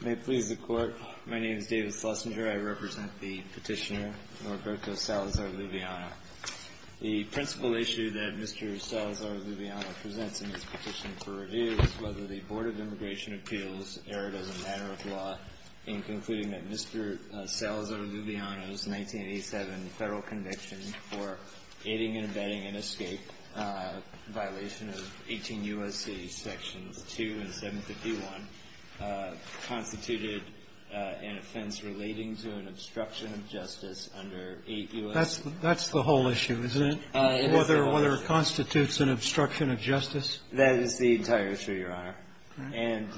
May it please the Court, my name is David Schlesinger. I represent the petitioner Norberto Salazar-Luviano. The principal issue that Mr. Salazar-Luviano presents in his petition for review is whether the Board of Immigration Appeals erred as a matter of law in concluding that Mr. Salazar-Luviano's 1987 federal conviction for aiding and abetting an escape violation of 18 U.S.C. sections 2 and 751 constituted an offense relating to an obstruction of justice under 8 U.S.C. That's the whole issue, isn't it? Whether it constitutes an obstruction of justice. That is the entire issue, Your Honor. And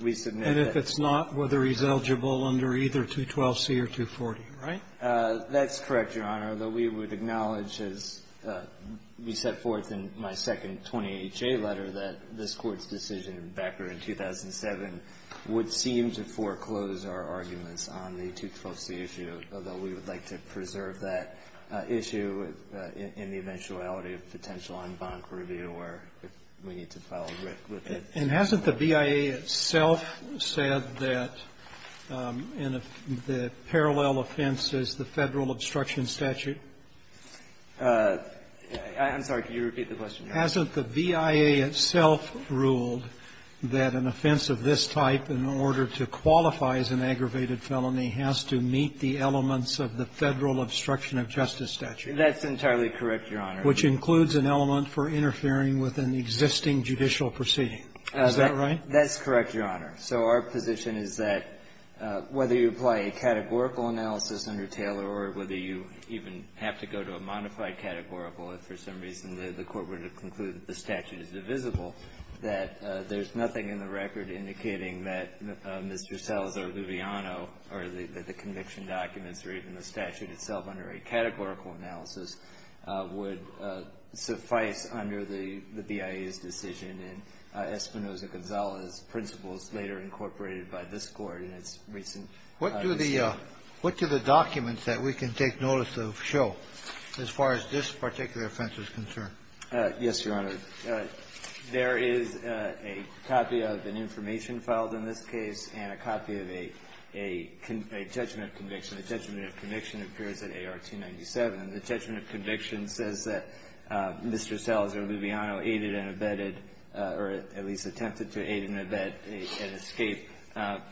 we submit that And if it's not, whether he's eligible under either 212C or 240. Right? That's correct, Your Honor. Although we would acknowledge, as we set forth in my second 20HA letter, that this Court's decision back in 2007 would seem to foreclose our arguments on the 212C issue, although we would like to preserve that issue in the eventuality of potential en banc review where we need to file a writ with it. And hasn't the BIA itself said that the parallel offense is the federal obstruction statute? I'm sorry. Can you repeat the question? Hasn't the BIA itself ruled that an offense of this type, in order to qualify as an aggravated felony, has to meet the elements of the federal obstruction of justice statute? That's entirely correct, Your Honor. Which includes an element for interfering with an existing judicial proceeding. Is that right? That's correct, Your Honor. So our position is that whether you apply a categorical analysis under Taylor or whether you even have to go to a modified categorical, if for some reason the Court were to conclude that the statute is divisible, that there's nothing in the record indicating that Mr. Salazar-Luviano or the conviction documents or even the statute itself under a categorical analysis would suffice under the BIA's decision and Espinoza-Gonzalez principles later incorporated by this Court in its recent decision. What do the documents that we can take notice of show as far as this particular offense is concerned? Yes, Your Honor. There is a copy of an information filed in this case and a copy of a judgment of conviction. The judgment of conviction appears at AR 297. The judgment of conviction says that Mr. Salazar-Luviano aided and abetted or at least attempted to aid and abet an escape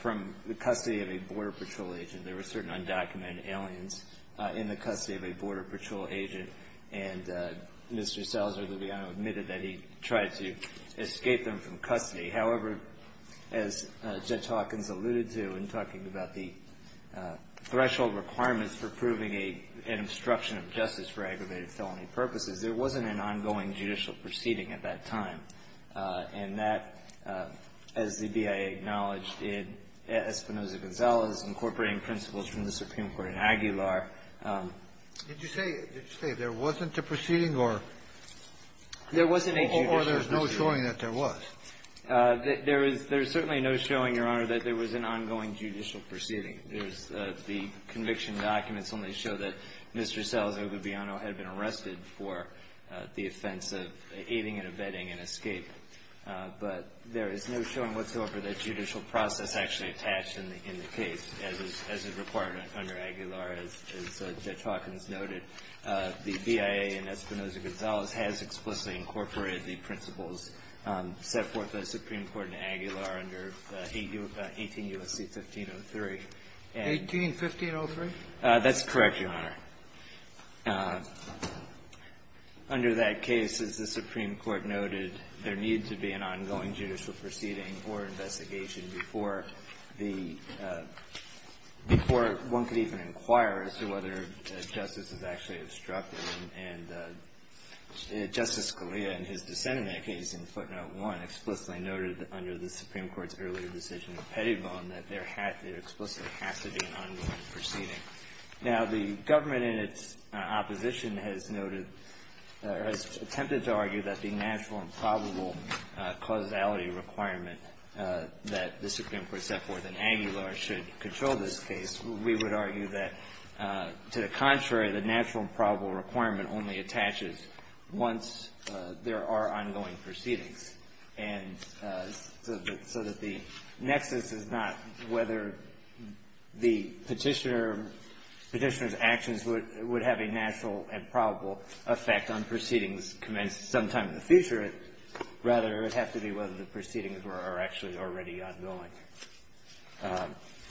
from the custody of a Border Patrol agent. There were certain undocumented aliens in the custody of a Border Patrol agent, and Mr. Salazar-Luviano admitted that he tried to escape them from custody. However, as Judge Hawkins alluded to in talking about the threshold requirements for proving an obstruction of justice for aggravated felony purposes, there wasn't an ongoing judicial proceeding at that time, and that, as the BIA acknowledged, in Espinoza-Gonzalez incorporating principles from the Supreme Court in Aguilar Did you say there wasn't a proceeding or there's no showing that there was? There is certainly no showing, Your Honor, that there was an ongoing judicial proceeding. The conviction documents only show that Mr. Salazar-Luviano had been arrested for the offense of aiding and abetting an escape, but there is no showing whatsoever that judicial process actually attached in the case as is required under Aguilar. As Judge Hawkins noted, the BIA in Espinoza-Gonzalez has explicitly incorporated the principles set forth by the Supreme Court in Aguilar under 18 U.S.C. 1503. 18-1503? That's correct, Your Honor. Under that case, as the Supreme Court noted, there needed to be an ongoing judicial proceeding or investigation before the – before one could even inquire as to whether that justice was actually obstructed. And Justice Scalia, in his dissent in that case in footnote 1, explicitly noted under the Supreme Court's earlier decision in Pettibone that there explicitly has to be an ongoing proceeding. Now, the government in its opposition has noted – has attempted to argue that the natural and probable causality requirement that the Supreme Court set forth in Aguilar should control this case. We would argue that, to the contrary, the natural and probable requirement only attaches once there are ongoing proceedings. And so that the nexus is not whether the Petitioner's actions would have a natural and probable effect on proceedings commenced sometime in the future. Rather, it would have to be whether the proceedings were actually already ongoing.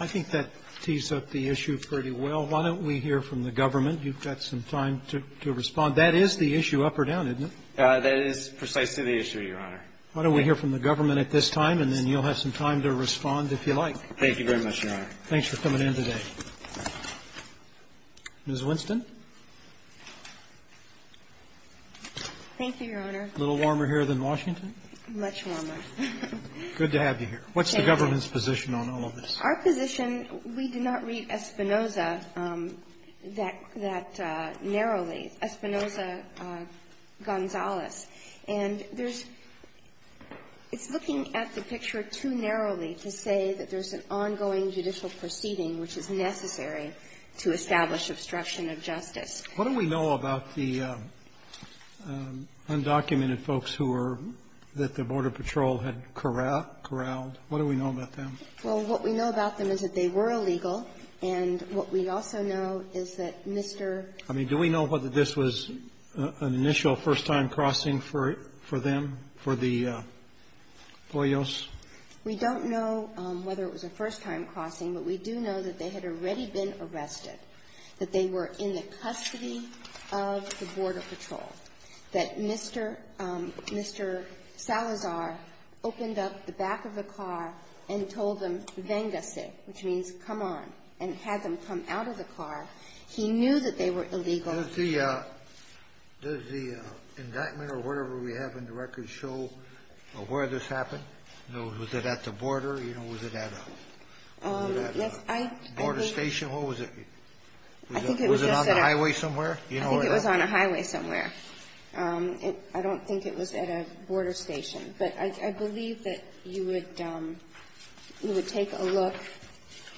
I think that tees up the issue pretty well. Why don't we hear from the government? You've got some time to respond. That is the issue up or down, isn't it? That is precisely the issue, Your Honor. Why don't we hear from the government at this time, and then you'll have some time to respond if you like. Thank you very much, Your Honor. Thanks for coming in today. Ms. Winston. Thank you, Your Honor. A little warmer here than Washington? Much warmer. Good to have you here. What's the government's position on all of this? Our position, we did not read Espinoza that narrowly, Espinoza-Gonzalez. And there's – it's looking at the picture too narrowly to say that there's an ongoing judicial proceeding which is necessary to establish obstruction of justice. What do we know about the undocumented folks who were – that the Border Patrol had corralled? What do we know about them? Well, what we know about them is that they were illegal. And what we also know is that Mr. — I mean, do we know whether this was an initial first-time crossing for them, for the Poyos? We don't know whether it was a first-time crossing, but we do know that they had already been arrested. That they were in the custody of the Border Patrol. That Mr. Salazar opened up the back of the car and told them, vengace, which means come on, and had them come out of the car. He knew that they were illegal. Does the indictment or whatever we have in the records show where this happened? Was it at the border? Was it at a border station? Or was it on the highway somewhere? I think it was on a highway somewhere. I don't think it was at a border station. But I believe that you would take a look.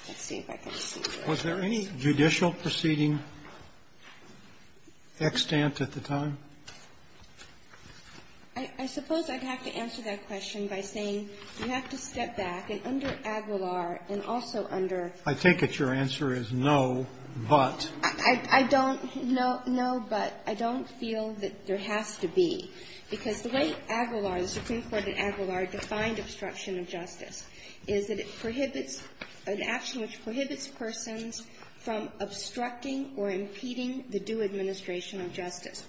Let's see if I can see. Was there any judicial proceeding extant at the time? I suppose I'd have to answer that question by saying you have to step back. And under Aguilar and also under ---- I take it your answer is no, but. I don't. No, but. I don't feel that there has to be. Because the way Aguilar, the Supreme Court at Aguilar, defined obstruction of justice is that it prohibits an action which prohibits persons from obstructing or impeding the due administration of justice.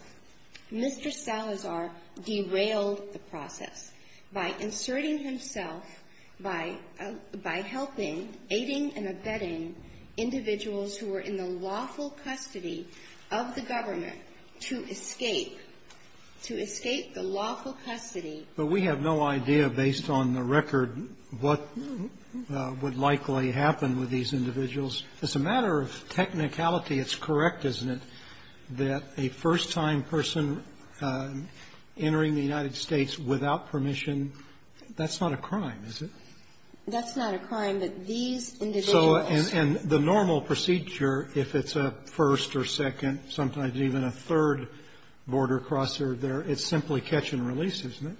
Mr. Salazar derailed the process by inserting himself, by helping, aiding and abetting individuals who were in the lawful custody of the government to escape, to escape the lawful custody. But we have no idea, based on the record, what would likely happen with these individuals. It's a matter of technicality. It's correct, isn't it, that a first-time person entering the United States without permission, that's not a crime, is it? That's not a crime. But these individuals ---- And the normal procedure, if it's a first or second, sometimes even a third border crosser there, it's simply catch and release, isn't it?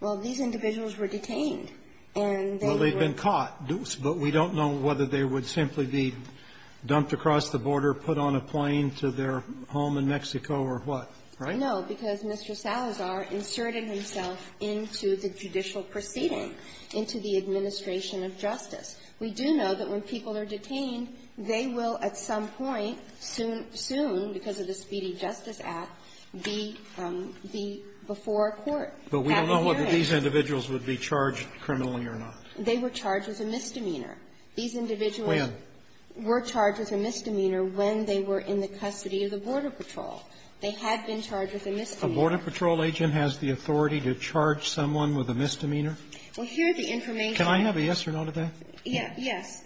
Well, these individuals were detained. And they were ---- And they would simply be dumped across the border, put on a plane to their home in Mexico or what, right? No, because Mr. Salazar inserted himself into the judicial proceeding, into the administration of justice. We do know that when people are detained, they will at some point, soon, because of the Speedy Justice Act, be before a court. But we don't know whether these individuals would be charged criminally or not. They were charged with a misdemeanor. These individuals were charged with a misdemeanor when they were in the custody of the Border Patrol. They had been charged with a misdemeanor. A Border Patrol agent has the authority to charge someone with a misdemeanor? Well, here the information ---- Can I have a yes or no to that? Yes.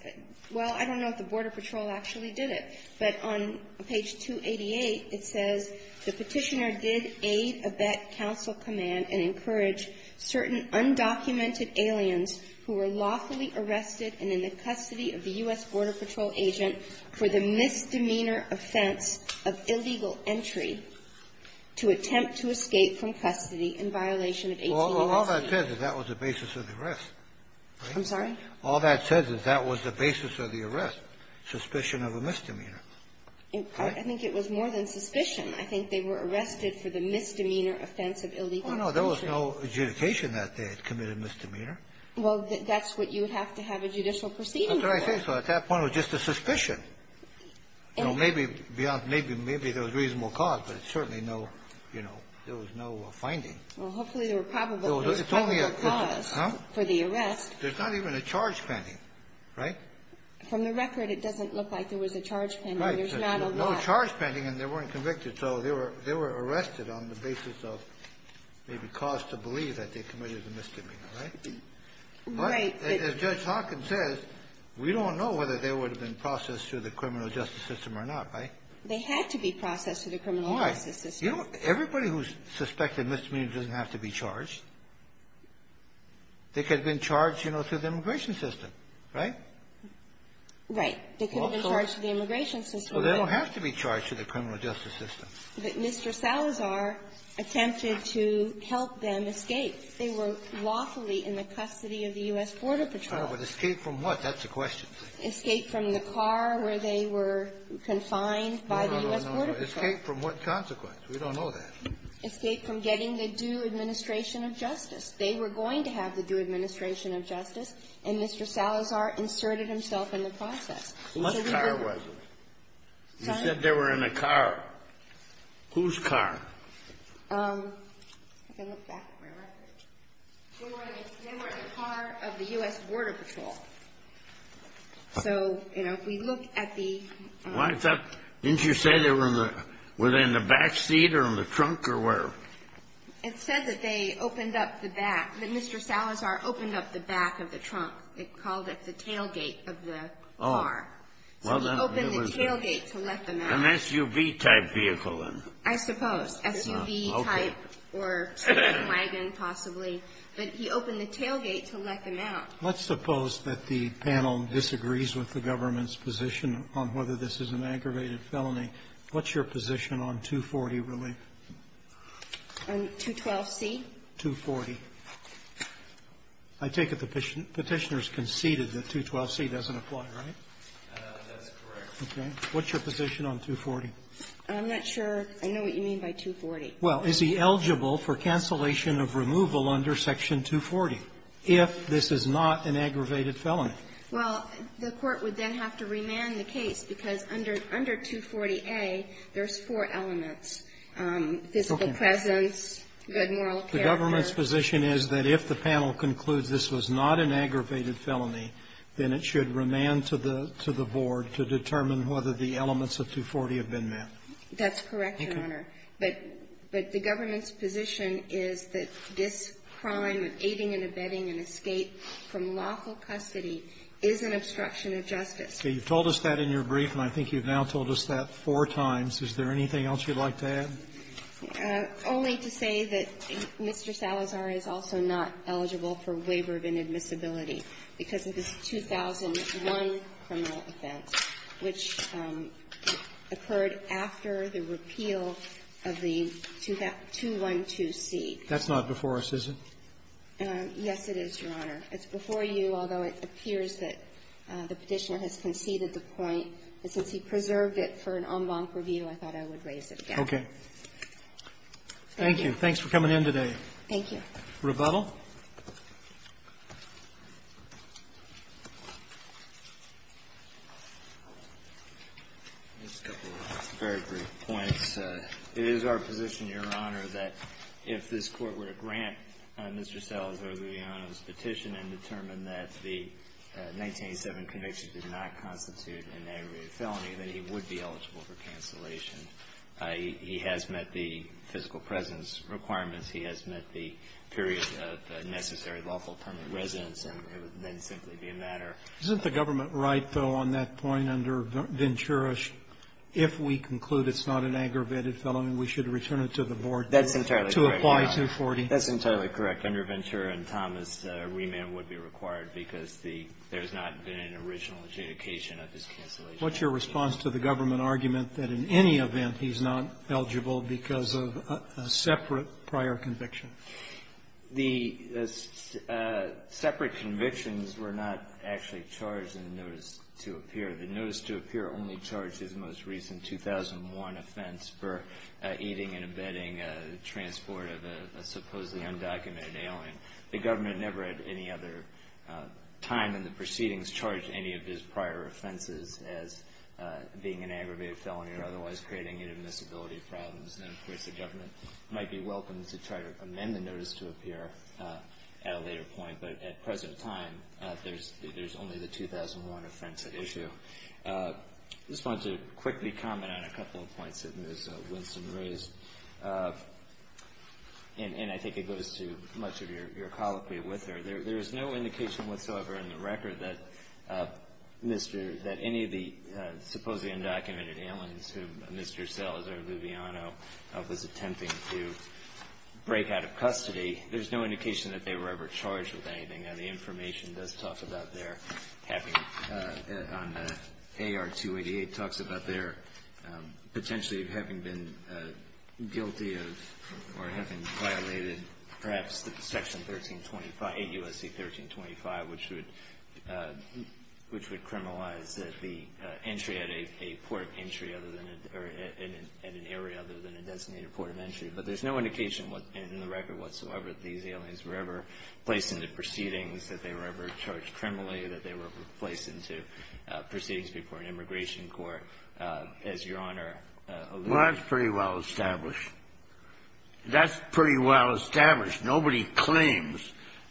Well, I don't know if the Border Patrol actually did it, but on page 288, it says, the Petitioner did aid Abette Council Command and encourage certain undocumented aliens who were lawfully arrested and in the custody of the U.S. Border Patrol agent for the misdemeanor offense of illegal entry to attempt to escape from custody in violation of 1886. Well, all that says is that was the basis of the arrest. I'm sorry? All that says is that was the basis of the arrest, suspicion of a misdemeanor. I think it was more than suspicion. Well, no, there was no adjudication that they had committed a misdemeanor. Well, that's what you would have to have a judicial proceeding for. That's what I think. So at that point, it was just a suspicion. Maybe beyond ---- maybe there was reasonable cause, but it's certainly no, you know, there was no finding. Well, hopefully there were probable causes for the arrest. There's not even a charge pending, right? From the record, it doesn't look like there was a charge pending. There's not a lot. Right. There's no charge pending, and they weren't convicted. So they were arrested on the basis of maybe cause to believe that they committed a misdemeanor, right? Right. As Judge Hocken says, we don't know whether they would have been processed through the criminal justice system or not, right? They had to be processed through the criminal justice system. Why? You don't ---- everybody who's suspected misdemeanor doesn't have to be charged. They could have been charged, you know, through the immigration system, right? Right. They could have been charged through the immigration system. Well, they don't have to be charged through the criminal justice system. But Mr. Salazar attempted to help them escape. They were lawfully in the custody of the U.S. Border Patrol. Oh, but escape from what? That's the question. Escape from the car where they were confined by the U.S. Border Patrol. No, no, no. Escape from what consequence? We don't know that. Escape from getting the due administration of justice. They were going to have the due administration of justice, and Mr. Salazar inserted himself in the process. What car was it? You said they were in a car. Whose car? Um, I can look back at my record. They were in the car of the U.S. Border Patrol. So, you know, if we look at the ---- Why is that? Didn't you say they were in the back seat or in the trunk or where? It said that they opened up the back. That Mr. Salazar opened up the back of the trunk. It called it the tailgate of the car. So he opened the tailgate to let them out. An SUV-type vehicle, then? I suppose. SUV-type or wagon, possibly. But he opened the tailgate to let them out. Let's suppose that the panel disagrees with the government's position on whether this is an aggravated felony. What's your position on 240 relief? On 212C? 240. I take it the Petitioner's conceded that 212C doesn't apply, right? That's correct. Okay. What's your position on 240? I'm not sure I know what you mean by 240. Well, is he eligible for cancellation of removal under Section 240 if this is not an aggravated felony? Well, the Court would then have to remand the case because under 240A, there's four elements, physical presence, good moral character. The government's position is that if the panel concludes this was not an aggravated felony, then it should remand to the Board to determine whether the elements of 240 have been met. That's correct, Your Honor. But the government's position is that this crime of aiding and abetting an escape from lawful custody is an obstruction of justice. Okay. You've told us that in your brief, and I think you've now told us that four times. Is there anything else you'd like to add? Only to say that Mr. Salazar is also not eligible for waiver of inadmissibility because of this 2001 criminal offense, which occurred after the repeal of the 212C. That's not before us, is it? Yes, it is, Your Honor. It's before you, although it appears that the Petitioner has conceded the point. And since he preserved it for an en banc review, I thought I would raise it again. Okay. Thank you. Thanks for coming in today. Thank you. Rebuttal? Just a couple of very brief points. It is our position, Your Honor, that if this Court were to grant Mr. Salazar the petition and determine that the 1987 conviction did not constitute an aggravated felony, that he would be eligible for cancellation. He has met the physical presence requirements. He has met the period of necessary lawful permanent residence, and it would then simply be a matter. Isn't the government right, though, on that point, under Ventura, if we conclude it's not an aggravated felony, we should return it to the Board to apply 240? That's entirely correct. Under Ventura and Thomas, remand would be required because there's not been an original adjudication of his cancellation. What's your response to the government argument that in any event he's not eligible because of a separate prior conviction? The separate convictions were not actually charged in the notice to appear. The notice to appear only charged his most recent 2001 offense for aiding and abetting the transport of a supposedly undocumented alien. The government never at any other time in the proceedings charged any of his prior offenses as being an aggravated felony or otherwise creating inadmissibility problems. And of course, the government might be welcome to try to amend the notice to appear at a later point, but at present time, there's only the 2001 offense at issue. I just wanted to quickly comment on a couple of points that Ms. Winston raised, and I think it goes to much of your colloquy with her. There is no indication whatsoever in the record that any of the supposedly undocumented aliens who Mr. Salazar-Luviano was attempting to break out of custody, there's no indication that they were ever charged with anything. Now, the information does talk about their having on AR-288 talks about their potentially having been guilty of or having violated perhaps Section 1325, 8 U.S.C. 1325, which would criminalize the entry at a port entry at an area other than a designated port of entry. But there's no indication in the record whatsoever that these aliens were ever placed into proceedings, that they were ever charged criminally, that they were placed into proceedings before an immigration court. As Your Honor alluded to. Well, that's pretty well established. That's pretty well established. Nobody claims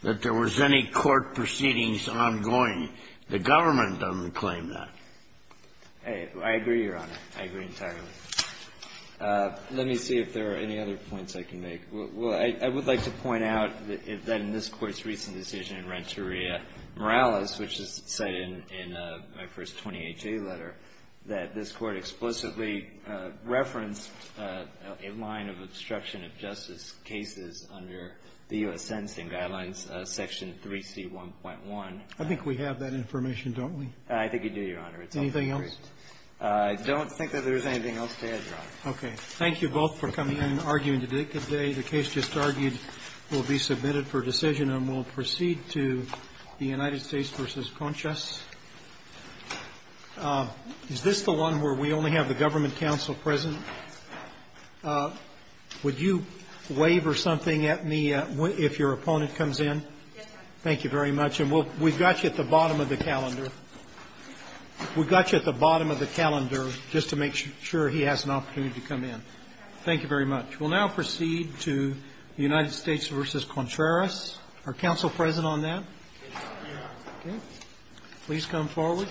that there was any court proceedings ongoing. The government doesn't claim that. I agree, Your Honor. I agree entirely. Let me see if there are any other points I can make. Well, I would like to point out that in this Court's recent decision in Renteria Morales, which is cited in my first 28-J letter, that this Court explicitly referenced a line of obstruction of justice cases under the U.S. Sentencing Guidelines, Section 3C1.1. I think we have that information, don't we? I think you do, Your Honor. Anything else? I don't think that there's anything else to add, Your Honor. Okay. Thank you both for coming in and arguing today. The case just argued will be submitted for decision, and we'll proceed to the United States v. Conchas. Is this the one where we only have the government counsel present? Would you wave or something at me if your opponent comes in? Yes, Your Honor. Thank you very much. And we'll we've got you at the bottom of the calendar. We've got you at the bottom of the calendar just to make sure he has an opportunity to come in. Thank you very much. We'll now proceed to the United States v. Conchas. Are counsel present on that? Yes, Your Honor. Okay. Please come forward.